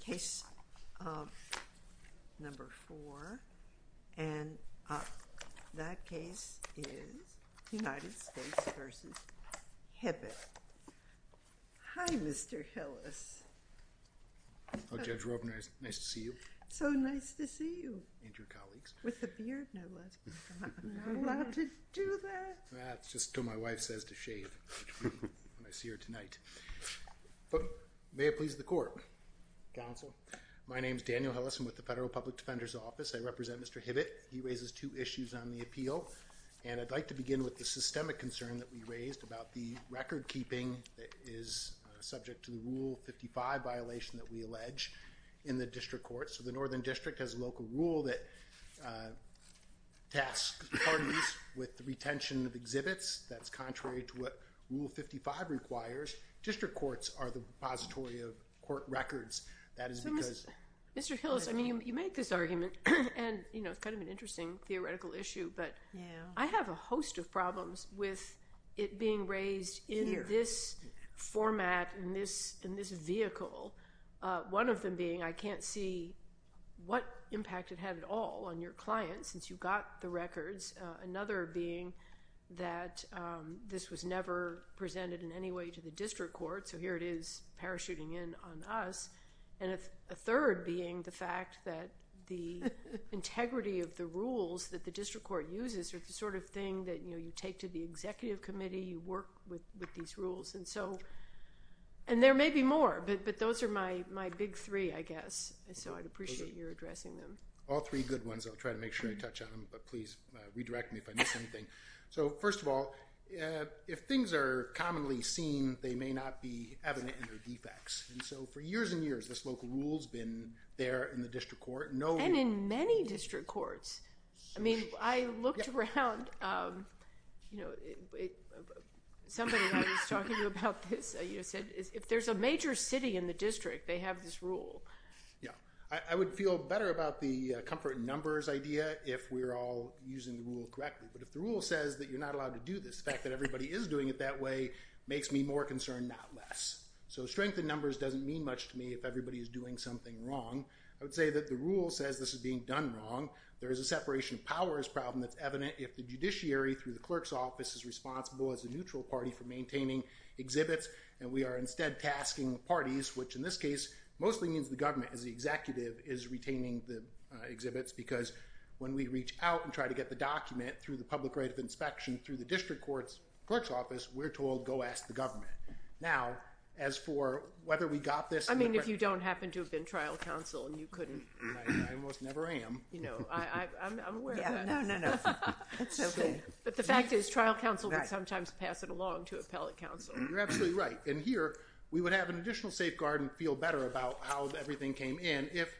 Case number four, and that case is United States v. Hibbett. Hi, Mr. Hillis. Judge Robner, it's nice to see you. So nice to see you. And your colleagues. With the beard, no less. I'm not allowed to do that. That's just what my wife says to shave when I see her tonight. But may it please the court. Counsel. My name is Daniel Hillis. I'm with the Federal Public Defender's Office. I represent Mr. Hibbett. He raises two issues on the appeal, and I'd like to begin with the systemic concern that we raised about the recordkeeping that is subject to the Rule 55 violation that we allege in the district court. So the Northern District has a local rule that tasks parties with the retention of exhibits. That's contrary to what Rule 55 requires. District courts are the repository of court records. That is because— Mr. Hillis, I mean, you made this argument, and it's kind of an interesting theoretical issue, but I have a host of problems with it being raised in this format, in this vehicle, one of them being I can't see what impact it had at all on your clients since you got the records, another being that this was never presented in any way to the district court, so here it is parachuting in on us, and a third being the fact that the integrity of the rules that the district court uses are the sort of thing that, you know, you take to the executive committee, you work with these rules. And there may be more, but those are my big three, I guess. So I'd appreciate your addressing them. All three good ones. I'll try to make sure I touch on them, but please redirect me if I miss anything. So first of all, if things are commonly seen, they may not be evident in their defects. And so for years and years, this local rule's been there in the district court. And in many district courts. I mean, I looked around, you know, somebody I was talking to about this said if there's a major city in the district, they have this rule. Yeah. I would feel better about the comfort in numbers idea if we're all using the rule correctly. But if the rule says that you're not allowed to do this, the fact that everybody is doing it that way makes me more concerned, not less. So strength in numbers doesn't mean much to me if everybody is doing something wrong. I would say that the rule says this is being done wrong. There is a separation of powers problem that's evident if the judiciary through the clerk's office is responsible as a neutral party for maintaining exhibits. And we are instead tasking parties, which in this case mostly means the government as the executive, is retaining the exhibits. Because when we reach out and try to get the document through the public right of inspection through the district court's clerk's office, we're told go ask the government. Now, as for whether we got this. I mean, if you don't happen to have been trial counsel and you couldn't. I almost never am. You know, I'm aware of that. No, no, no. That's OK. But the fact is trial counsel would sometimes pass it along to appellate counsel. You're absolutely right. And here, we would have an additional safeguard and feel better about how everything came in if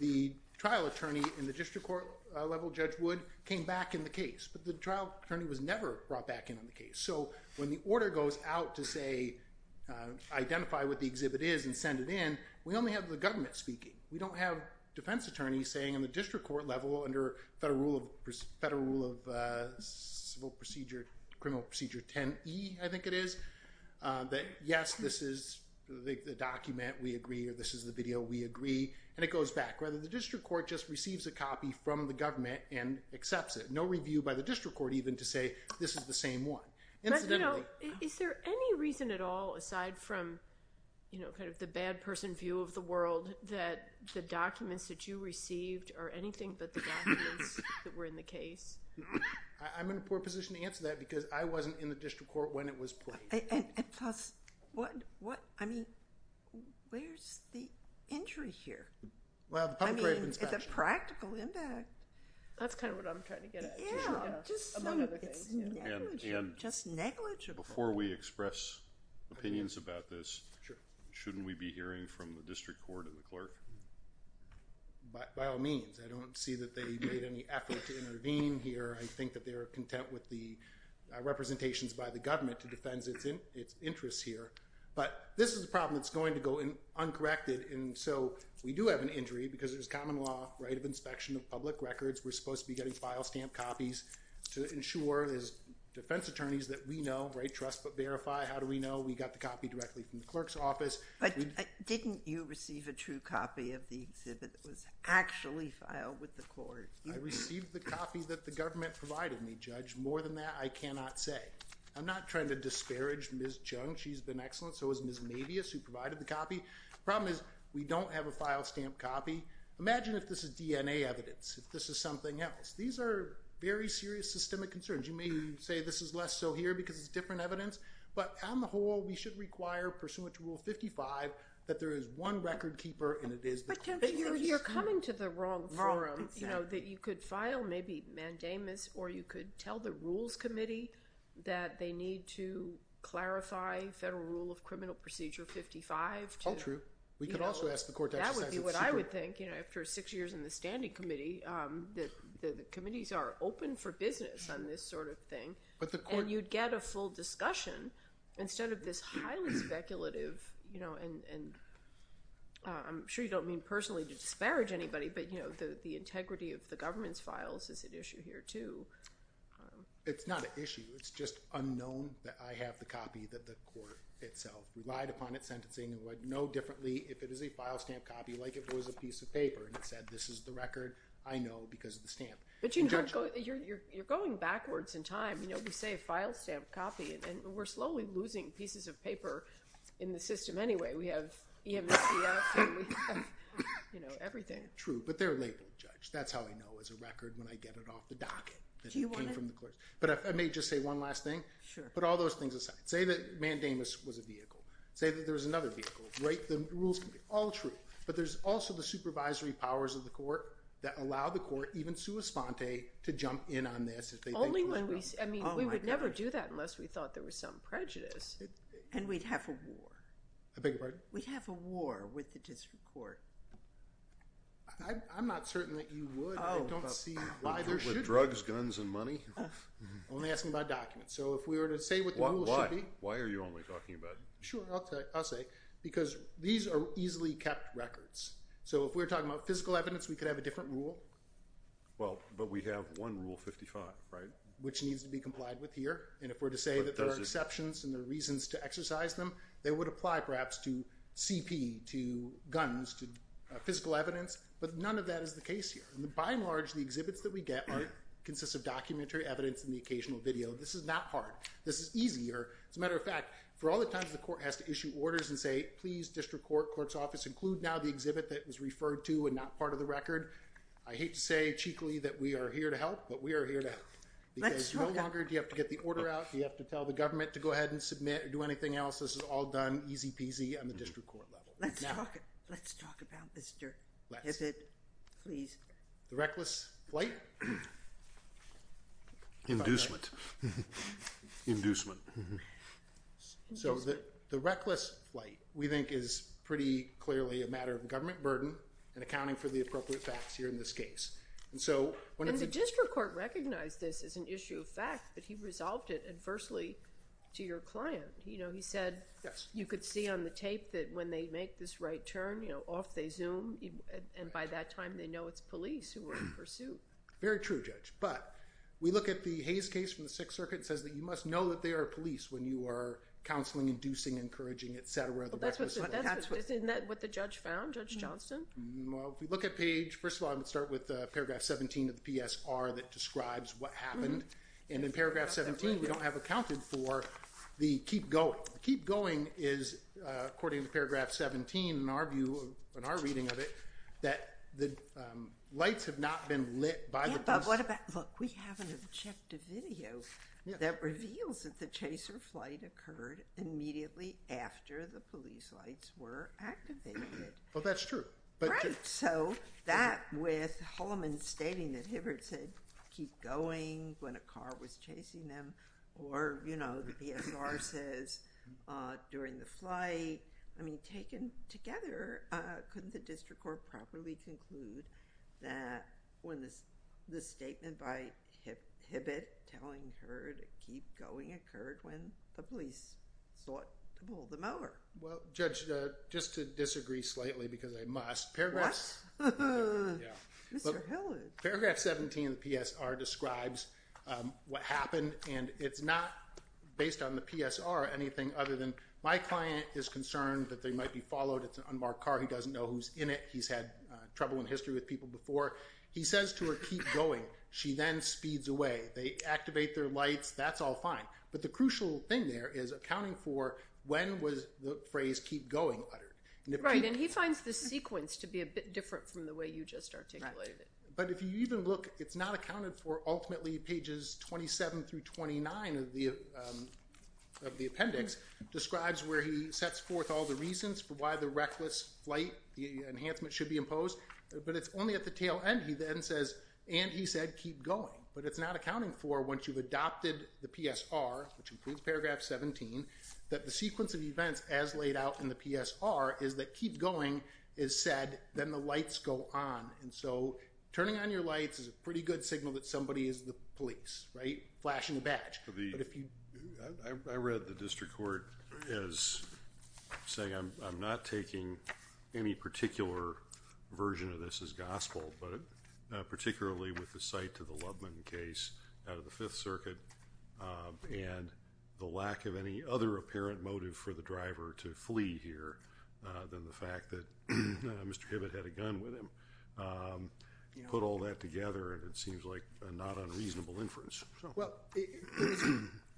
the trial attorney in the district court level, Judge Wood, came back in the case. But the trial attorney was never brought back in on the case. So when the order goes out to, say, identify what the exhibit is and send it in, we only have the government speaking. We don't have defense attorneys saying in the district court level under federal rule of criminal procedure 10E, I think it is, that yes, this is the document. We agree. This is the video. We agree. And it goes back. Rather, the district court just receives a copy from the government and accepts it. No review by the district court even to say this is the same one. Incidentally. Is there any reason at all, aside from the bad person view of the world, that the documents that you received are anything but the documents that were in the case? I'm in a poor position to answer that because I wasn't in the district court when it was placed. And plus, where's the injury here? Well, the public grave inspection. It's a practical impact. That's kind of what I'm trying to get at. Yeah. Among other things. Just negligible. Before we express opinions about this, shouldn't we be hearing from the district court and the clerk? By all means. I don't see that they made any effort to intervene here. I think that they are content with the representations by the government to defend its interests here. But this is a problem that's going to go uncorrected. And so we do have an injury because there's a common law right of inspection of public records. We're supposed to be getting file stamp copies to ensure as defense attorneys that we know, right, trust but verify. How do we know? We got the copy directly from the clerk's office. But didn't you receive a true copy of the exhibit that was actually filed with the court? I received the copy that the government provided me, Judge. More than that, I cannot say. I'm not trying to disparage Ms. Chung. She's been excellent. So is Ms. Mavius who provided the copy. Problem is, we don't have a file stamp copy. Imagine if this is DNA evidence. If this is something else. These are very serious systemic concerns. You may say this is less so here because it's different evidence. But on the whole, we should require pursuant to Rule 55 that there is one record keeper and it is the court. You're coming to the wrong forum. You know, that you could file maybe mandamus or you could tell the Rules Committee that they need to clarify Federal Rule of Criminal Procedure 55. Oh, true. We could also ask the court to exercise it. That's exactly what I would think. You know, after six years in the Standing Committee, the committees are open for business on this sort of thing. And you'd get a full discussion instead of this highly speculative, you know, and I'm sure you don't mean personally to disparage anybody, but, you know, the integrity of the government's files is at issue here too. It's not an issue. It's just unknown that I have the copy that the court itself relied upon at sentencing and would know differently if it is a file stamp copy like it was a piece of paper and said this is the record I know because of the stamp. But you're going backwards in time. You know, we say a file stamp copy and we're slowly losing pieces of paper in the system anyway. We have EMSCF and we have, you know, everything. True. But they're labeled, Judge. That's how I know it's a record when I get it off the docket. Do you want to— But I may just say one last thing. Sure. Put all those things aside. Say that mandamus was a vehicle. Say that there was another vehicle. Right? The rules can be all true. But there's also the supervisory powers of the court that allow the court, even sua sponte, to jump in on this if they think— Only when we—I mean, we would never do that unless we thought there was some prejudice. And we'd have a war. I beg your pardon? We'd have a war with the district court. I'm not certain that you would. I don't see why there should be. With drugs, guns, and money? I'm only asking about documents. So if we were to say what the rules should be— Why? Why are you only talking about— Sure. I'll say. Because these are easily kept records. So if we're talking about physical evidence, we could have a different rule. Well, but we have one Rule 55, right? Which needs to be complied with here. And if we're to say that there are exceptions and there are reasons to exercise them, they would apply, perhaps, to CP, to guns, to physical evidence. But none of that is the case here. By and large, the exhibits that we get consist of documentary evidence and the occasional video. This is not hard. This is easy. As a matter of fact, for all the times the court has to issue orders and say, please, district court, court's office, include now the exhibit that was referred to and not part of the record, I hate to say cheekily that we are here to help, but we are here to help. Let's talk about— Because no longer do you have to get the order out. You have to tell the government to go ahead and submit or do anything else. This is all done easy peasy on the district court level. Now— Let's talk about this, sir. Let's. Is it— Please. The reckless flight? Inducement. Inducement. Inducement. So the reckless flight, we think, is pretty clearly a matter of government burden and accounting for the appropriate facts here in this case. And so— And the district court recognized this as an issue of fact, but he resolved it adversely to your client. You know, he said— Yes. You could see on the tape that when they make this right turn, you know, off they zoom, and by that time they know it's police who were in pursuit. Very true, Judge. But we look at the Hayes case from the Sixth Circuit. It says that you must know that they are police when you are counseling, inducing, encouraging, et cetera, the reckless flight. Well, that's what— That's what— Isn't that what the judge found, Judge Johnston? Well, if you look at page— First of all, I'm going to start with paragraph 17 of the PSR that describes what happened. And in paragraph 17, we don't have accounted for the keep going. The keep going is, according to paragraph 17, in our view, in our reading of it, that the lights have not been lit by the police. What about—look, we have an objective video that reveals that the chase or flight occurred immediately after the police lights were activated. Well, that's true, but— Right. So that with Holloman stating that Hibbert said keep going when a car was chasing them, or, you know, the PSR says during the flight. I mean, taken together, couldn't the district court properly conclude that when the statement by Hibbert telling her to keep going occurred when the police sought to pull them over? Well, Judge, just to disagree slightly because I must, paragraph— What? Yeah. Mr. Hillard. Paragraph 17 of the PSR describes what happened, and it's not based on the PSR or anything other than my client is concerned that they might be followed. It's an unmarked car. He doesn't know who's in it. He's had trouble in history with people before. He says to her keep going. She then speeds away. They activate their lights. That's all fine, but the crucial thing there is accounting for when was the phrase keep going uttered. Right, and he finds the sequence to be a bit different from the way you just articulated it. But if you even look, it's not accounted for. Ultimately, pages 27 through 29 of the appendix describes where he sets forth all the reasons for why the reckless flight, the enhancement should be imposed, but it's only at the tail end. He then says, and he said keep going, but it's not accounting for once you've adopted the PSR, which includes paragraph 17, that the sequence of events as laid out in the PSR is that keep going is said, then the lights go on. And so turning on your lights is a pretty good signal that somebody is the police, right, flashing a badge. I read the district court as saying I'm not taking any particular version of this as gospel, but particularly with the site to the Lubman case out of the Fifth Circuit and the lack of any other apparent motive for the driver to flee here than the fact that Mr. Hibbett had a gun with him. Put all that together and it seems like a not unreasonable inference. Well,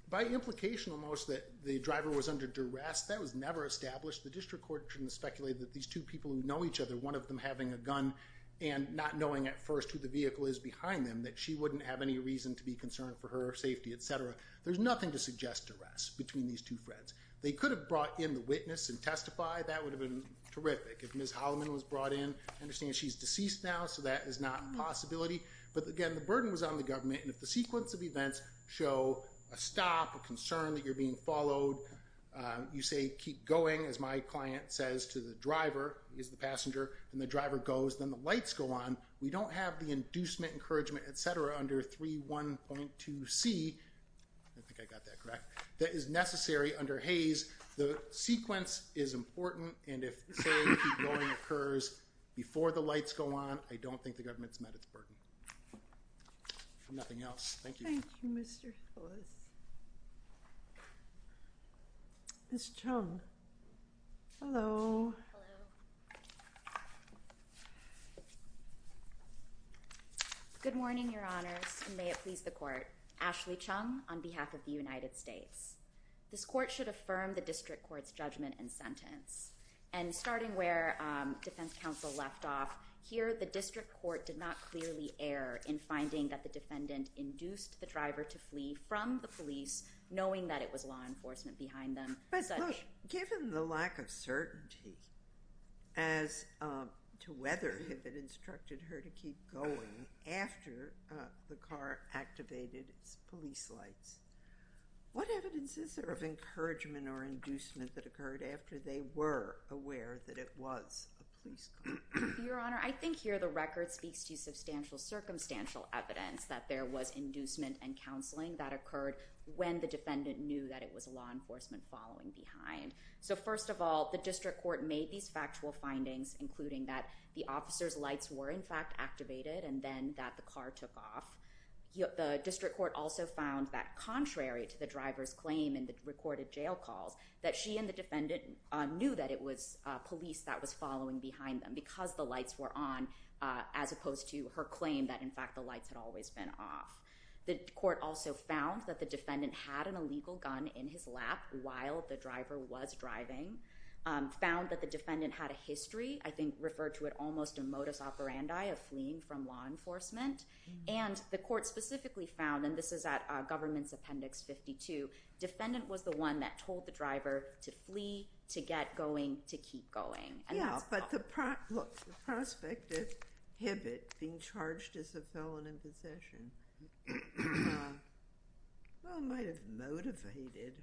by implication almost that the driver was under duress, that was never established. The district court shouldn't speculate that these two people who know each other, one of them having a gun and not knowing at first who the vehicle is behind them, that she wouldn't have any reason to be concerned for her safety, et cetera. There's nothing to suggest duress between these two friends. They could have brought in the witness and testified. That would have been terrific. If Ms. Holloman was brought in, I understand she's deceased now, so that is not a possibility. But again, the burden was on the government and if the sequence of events show a stop, a concern that you're being followed, you say keep going, as my client says to the driver, he's the passenger, and the driver goes, then the lights go on. We don't have the inducement, encouragement, et cetera, under 3.1.2c, I think I got that correct, that is necessary under Hays. The sequence is important and if saying keep going occurs before the lights go on, I don't think the government's met its burden. If nothing else, thank you. Thank you, Mr. Phyllis. Ms. Chung. Hello. Hello. Good morning, your honors, and may it please the court. Ashley Chung on behalf of the United States. This court should affirm the district court's judgment and sentence. And starting where defense counsel left off, here the district court did not clearly err in finding that the defendant induced the driver to flee from the police, knowing that it was law enforcement behind them. But look, given the lack of certainty as to whether Hibbitt instructed her to keep going after the car activated its police lights, what evidence is there of encouragement or inducement that occurred after they were aware that it was a police car? Your honor, I think here the record speaks to substantial circumstantial evidence that there was inducement and counseling that occurred when the defendant knew that it was law enforcement following behind. So first of all, the district court made these factual findings, including that the car took off. The district court also found that contrary to the driver's claim in the recorded jail calls, that she and the defendant knew that it was police that was following behind them because the lights were on, as opposed to her claim that, in fact, the lights had always been off. The court also found that the defendant had an illegal gun in his lap while the driver was driving, found that the defendant had a history, I think referred to it almost a fleeing from law enforcement. And the court specifically found, and this is at government's appendix 52, defendant was the one that told the driver to flee, to get going, to keep going. Yeah, but the prospect of Hibbitt being charged as a felon in possession, well, might have attributed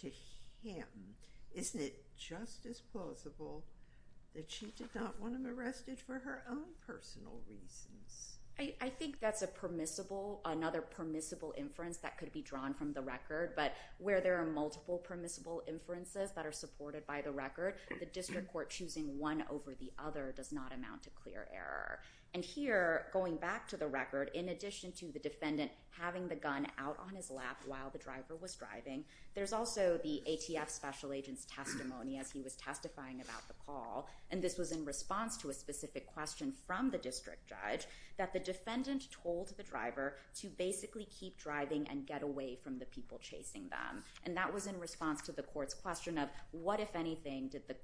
to him. Isn't it just as plausible that she did not want him arrested for her own personal reasons? I think that's a permissible, another permissible inference that could be drawn from the record. But where there are multiple permissible inferences that are supported by the record, the district court choosing one over the other does not amount to clear error. And here, going back to the record, in addition to the defendant having the gun out on his lap while the driver was driving, there's also the ATF special agent's testimony as he was testifying about the call. And this was in response to a specific question from the district judge that the defendant told the driver to basically keep driving and get away from the people chasing them. And that was in response to the court's question of what, if anything, did the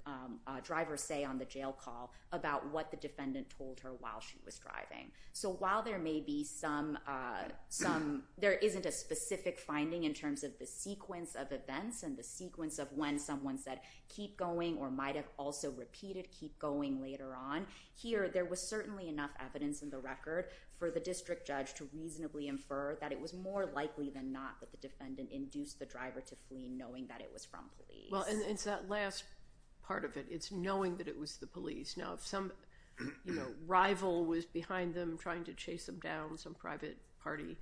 driver say on the jail call about what the defendant told her while she was driving. So while there may be some, there isn't a specific finding in terms of the sequence of events and the sequence of when someone said keep going or might have also repeated keep going later on, here there was certainly enough evidence in the record for the district judge to reasonably infer that it was more likely than not that the defendant induced the driver to flee knowing that it was from police. Well, and it's that last part of it. It's knowing that it was the police. Now, if some rival was behind them trying to chase them down, some private party,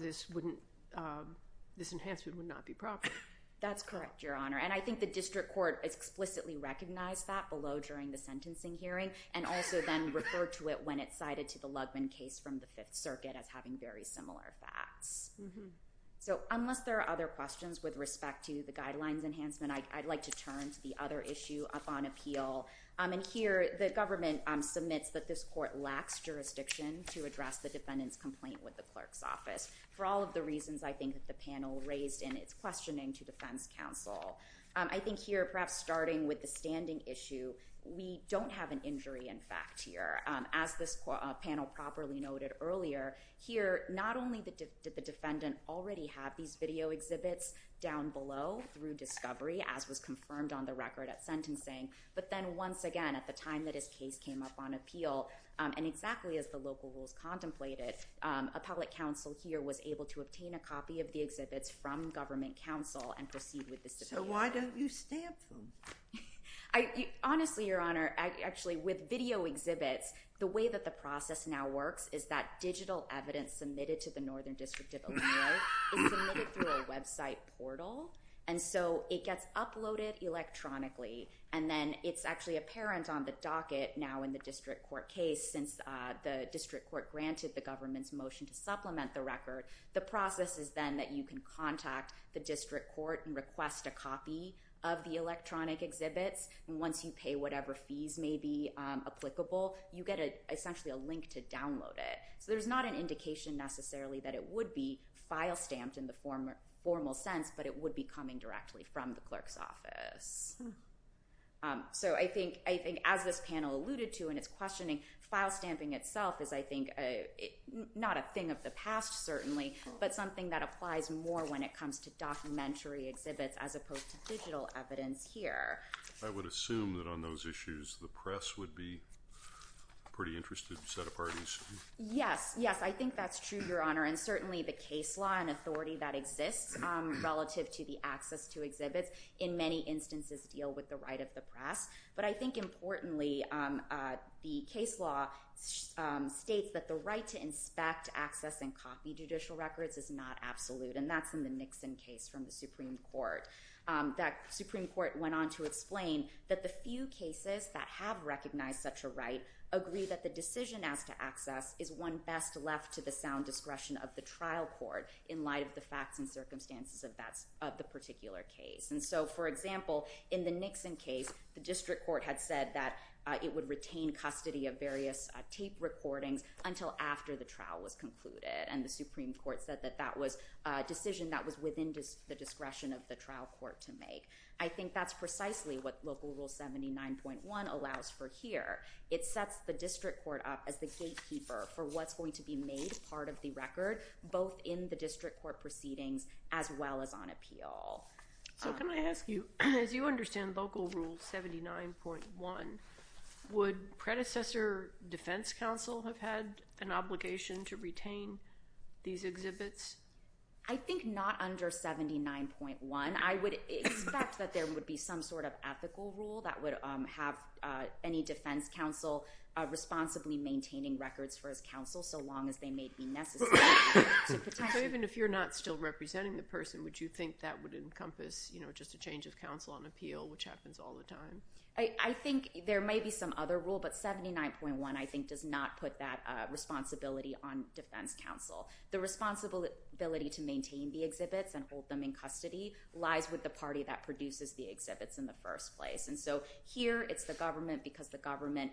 this wouldn't, this enhancement would not be proper. That's correct, Your Honor. And I think the district court explicitly recognized that below during the sentencing hearing and also then referred to it when it cited to the Lugman case from the Fifth Circuit as having very similar facts. So unless there are other questions with respect to the guidelines enhancement, I'd like to turn to the other issue up on appeal. And here the government submits that this court lacks jurisdiction to address the defendant's complaint with the clerk's office for all of the reasons I think that the panel raised in its questioning to defense counsel. I think here perhaps starting with the standing issue, we don't have an injury in fact here. As this panel properly noted earlier, here not only did the defendant already have these video exhibits down below through discovery as was confirmed on the record at sentencing, but then once again at the time that his case came up on appeal and exactly as the local rules contemplated, a public counsel here was able to obtain a copy of the exhibits from government counsel and proceed with this. So why don't you stamp them? Honestly, Your Honor, actually with video exhibits, the way that the process now works is that digital evidence submitted to the Northern District of Illinois is submitted through a website portal. And so it gets uploaded electronically. And then it's actually apparent on the docket now in the district court case since the district court granted the government's motion to supplement the record. The process is then that you can contact the district court and request a copy of the electronic exhibits. And once you pay whatever fees may be applicable, you get essentially a link to download it. So there's not an indication necessarily that it would be file stamped in the formal sense, but it would be coming directly from the clerk's office. So I think as this panel alluded to in its questioning, file stamping itself is, I think, not a thing of the past certainly, but something that applies more when it comes to documentary exhibits as opposed to digital evidence here. I would assume that on those issues, the press would be pretty interested, set of parties. Yes. Yes. I think that's true, Your Honor. And certainly the case law and authority that exists relative to the access to exhibits in many instances deal with the right of the press. But I think importantly, the case law states that the right to inspect, access, and copy judicial records is not absolute. And that's in the Nixon case from the Supreme Court. That Supreme Court went on to explain that the few cases that have recognized such a decision as to access is one best left to the sound discretion of the trial court in light of the facts and circumstances of the particular case. And so, for example, in the Nixon case, the district court had said that it would retain custody of various tape recordings until after the trial was concluded. And the Supreme Court said that that was a decision that was within the discretion of the trial court to make. I think that's precisely what Local Rule 79.1 allows for here. It sets the district court up as the gatekeeper for what's going to be made part of the record both in the district court proceedings as well as on appeal. So can I ask you, as you understand Local Rule 79.1, would predecessor defense counsel have had an obligation to retain these exhibits? I think not under 79.1. And I would expect that there would be some sort of ethical rule that would have any defense counsel responsibly maintaining records for his counsel so long as they may be necessary. So even if you're not still representing the person, would you think that would encompass just a change of counsel on appeal, which happens all the time? I think there may be some other rule, but 79.1, I think, does not put that responsibility on defense counsel. The responsibility to maintain the exhibits and hold them in custody lies with the party that produces the exhibits in the first place. And so here, it's the government because the government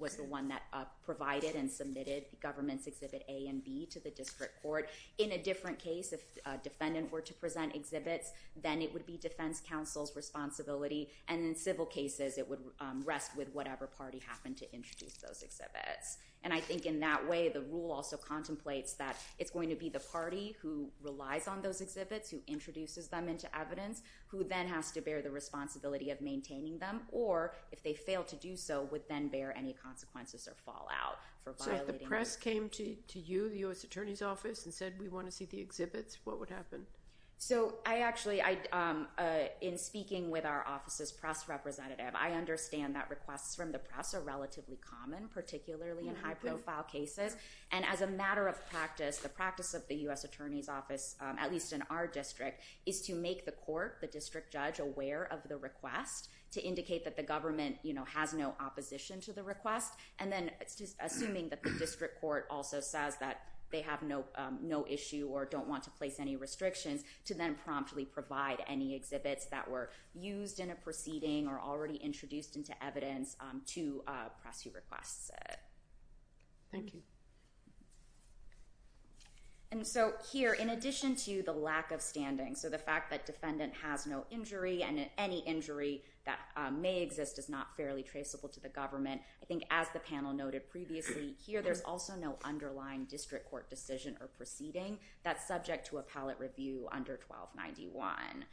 was the one that provided and submitted the government's exhibit A and B to the district court. In a different case, if a defendant were to present exhibits, then it would be defense counsel's responsibility. And in civil cases, it would rest with whatever party happened to introduce those exhibits. And I think in that way, the rule also contemplates that it's going to be the party who relies on those exhibits, who introduces them into evidence, who then has to bear the responsibility of maintaining them. Or if they fail to do so, would then bear any consequences or fall out for violating their rights. So if the press came to you, the U.S. Attorney's Office, and said, we want to see the exhibits, what would happen? So I actually, in speaking with our office's press representative, I understand that requests from the press are relatively common, particularly in high-profile cases. And as a matter of practice, the practice of the U.S. Attorney's Office, at least in our district, is to make the court, the district judge, aware of the request to indicate that the government has no opposition to the request. And then assuming that the district court also says that they have no issue or don't want to place any restrictions, to then promptly provide any exhibits that were used in a proceeding or already introduced into evidence to a press who requests it. Thank you. And so here, in addition to the lack of standing, so the fact that defendant has no injury and any injury that may exist is not fairly traceable to the government, I think as the panel noted previously, here there's also no underlying district court decision or proceeding that's subject to a pallet review under 1291.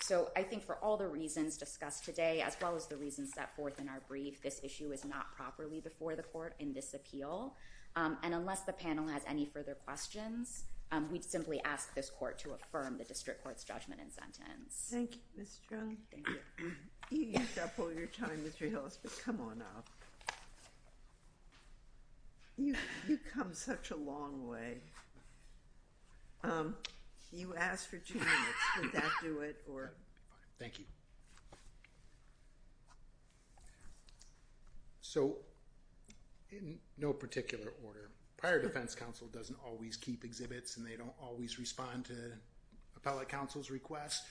So I think for all the reasons discussed today, as well as the reasons set forth in our brief, this issue is not properly before the court in this appeal. And unless the panel has any further questions, we'd simply ask this court to affirm the district court's judgment and sentence. Thank you, Ms. Chung. Thank you. You used up all your time, Mr. Hillis, but come on up. You've come such a long way. You asked for two minutes. Did that do it? Thank you. So in no particular order, prior defense counsel doesn't always keep exhibits and they don't always respond to appellate counsel's request.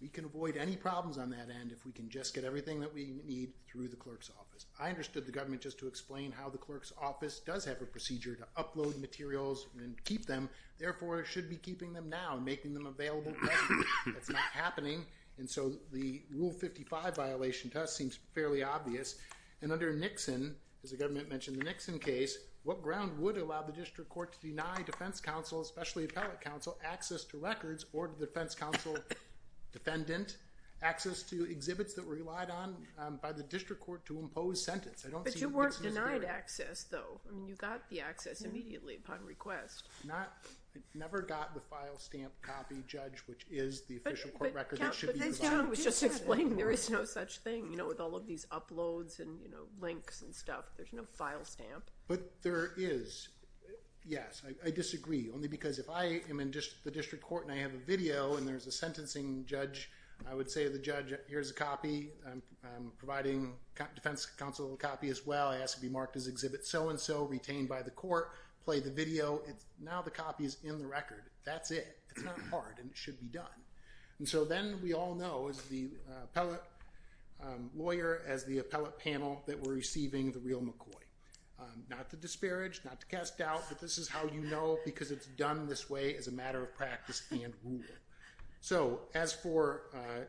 We can avoid any problems on that end if we can just get everything that we need through the clerk's office. I understood the government just to explain how the clerk's office does have a procedure to upload materials and keep them. Therefore, it should be keeping them now and making them available. That's not happening. And so the Rule 55 violation to us seems fairly obvious. And under Nixon, as the government mentioned in the Nixon case, what ground would allow the district court to deny defense counsel, especially appellate counsel, access to records or the defense counsel defendant access to exhibits that were relied on by the district court to impose sentence? But you weren't denied access, though. I mean, you got the access immediately upon request. I never got the file stamp copy, Judge, which is the official court record that should be provided. But as John was just explaining, there is no such thing with all of these uploads and links and stuff. There's no file stamp. But there is. Yes. I disagree. Only because if I am in the district court and I have a video and there's a sentencing judge, I would say to the judge, here's a copy. I'm providing defense counsel a copy as well. I ask it be marked as exhibit so-and-so retained by the court. Play the video. Now the copy is in the record. That's it. It's not hard. And it should be done. And so then we all know, as the appellate lawyer, as the appellate panel, that we're receiving the real McCoy. Not to disparage, not to cast doubt, but this is how you know because it's done this way as a matter of practice and rule. So as for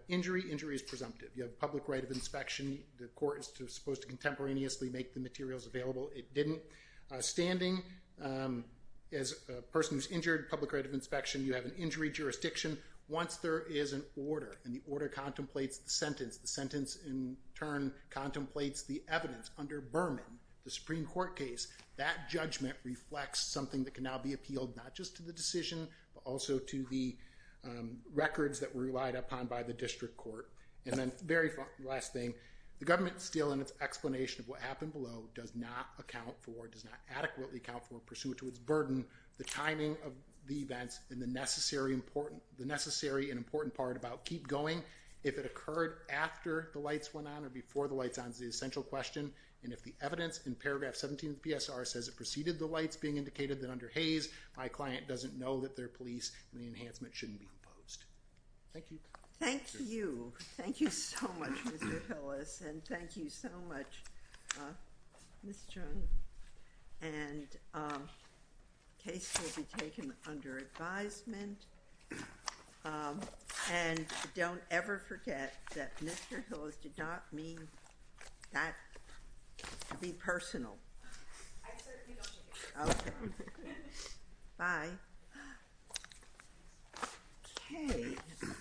injury, injury is presumptive. You have public right of inspection. The court is supposed to contemporaneously make the materials available. It didn't. Standing, as a person who's injured, public right of inspection, you have an injury jurisdiction. Once there is an order and the order contemplates the sentence, the sentence in turn contemplates the evidence under Berman, the Supreme Court case, that judgment reflects something that can now be appealed not just to the decision but also to the records that were relied upon by the district court. And then, very last thing, the government still in its explanation of what happened below does not account for, does not adequately account for, pursuant to its burden, the timing of the events and the necessary and important part about keep going. If it occurred after the lights went on or before the lights went on is the essential question. And if the evidence in paragraph 17 of the PSR says it preceded the lights being indicated that under Hayes, my client doesn't know that they're police and the enhancement shouldn't be imposed. Thank you. Thank you. Thank you so much, Mr. Hillis. And thank you so much, Ms. Chung. And cases will be taken under advisement. And don't ever forget that Mr. Hillis did not mean that to be personal. I certainly don't. Okay. Bye. Okay.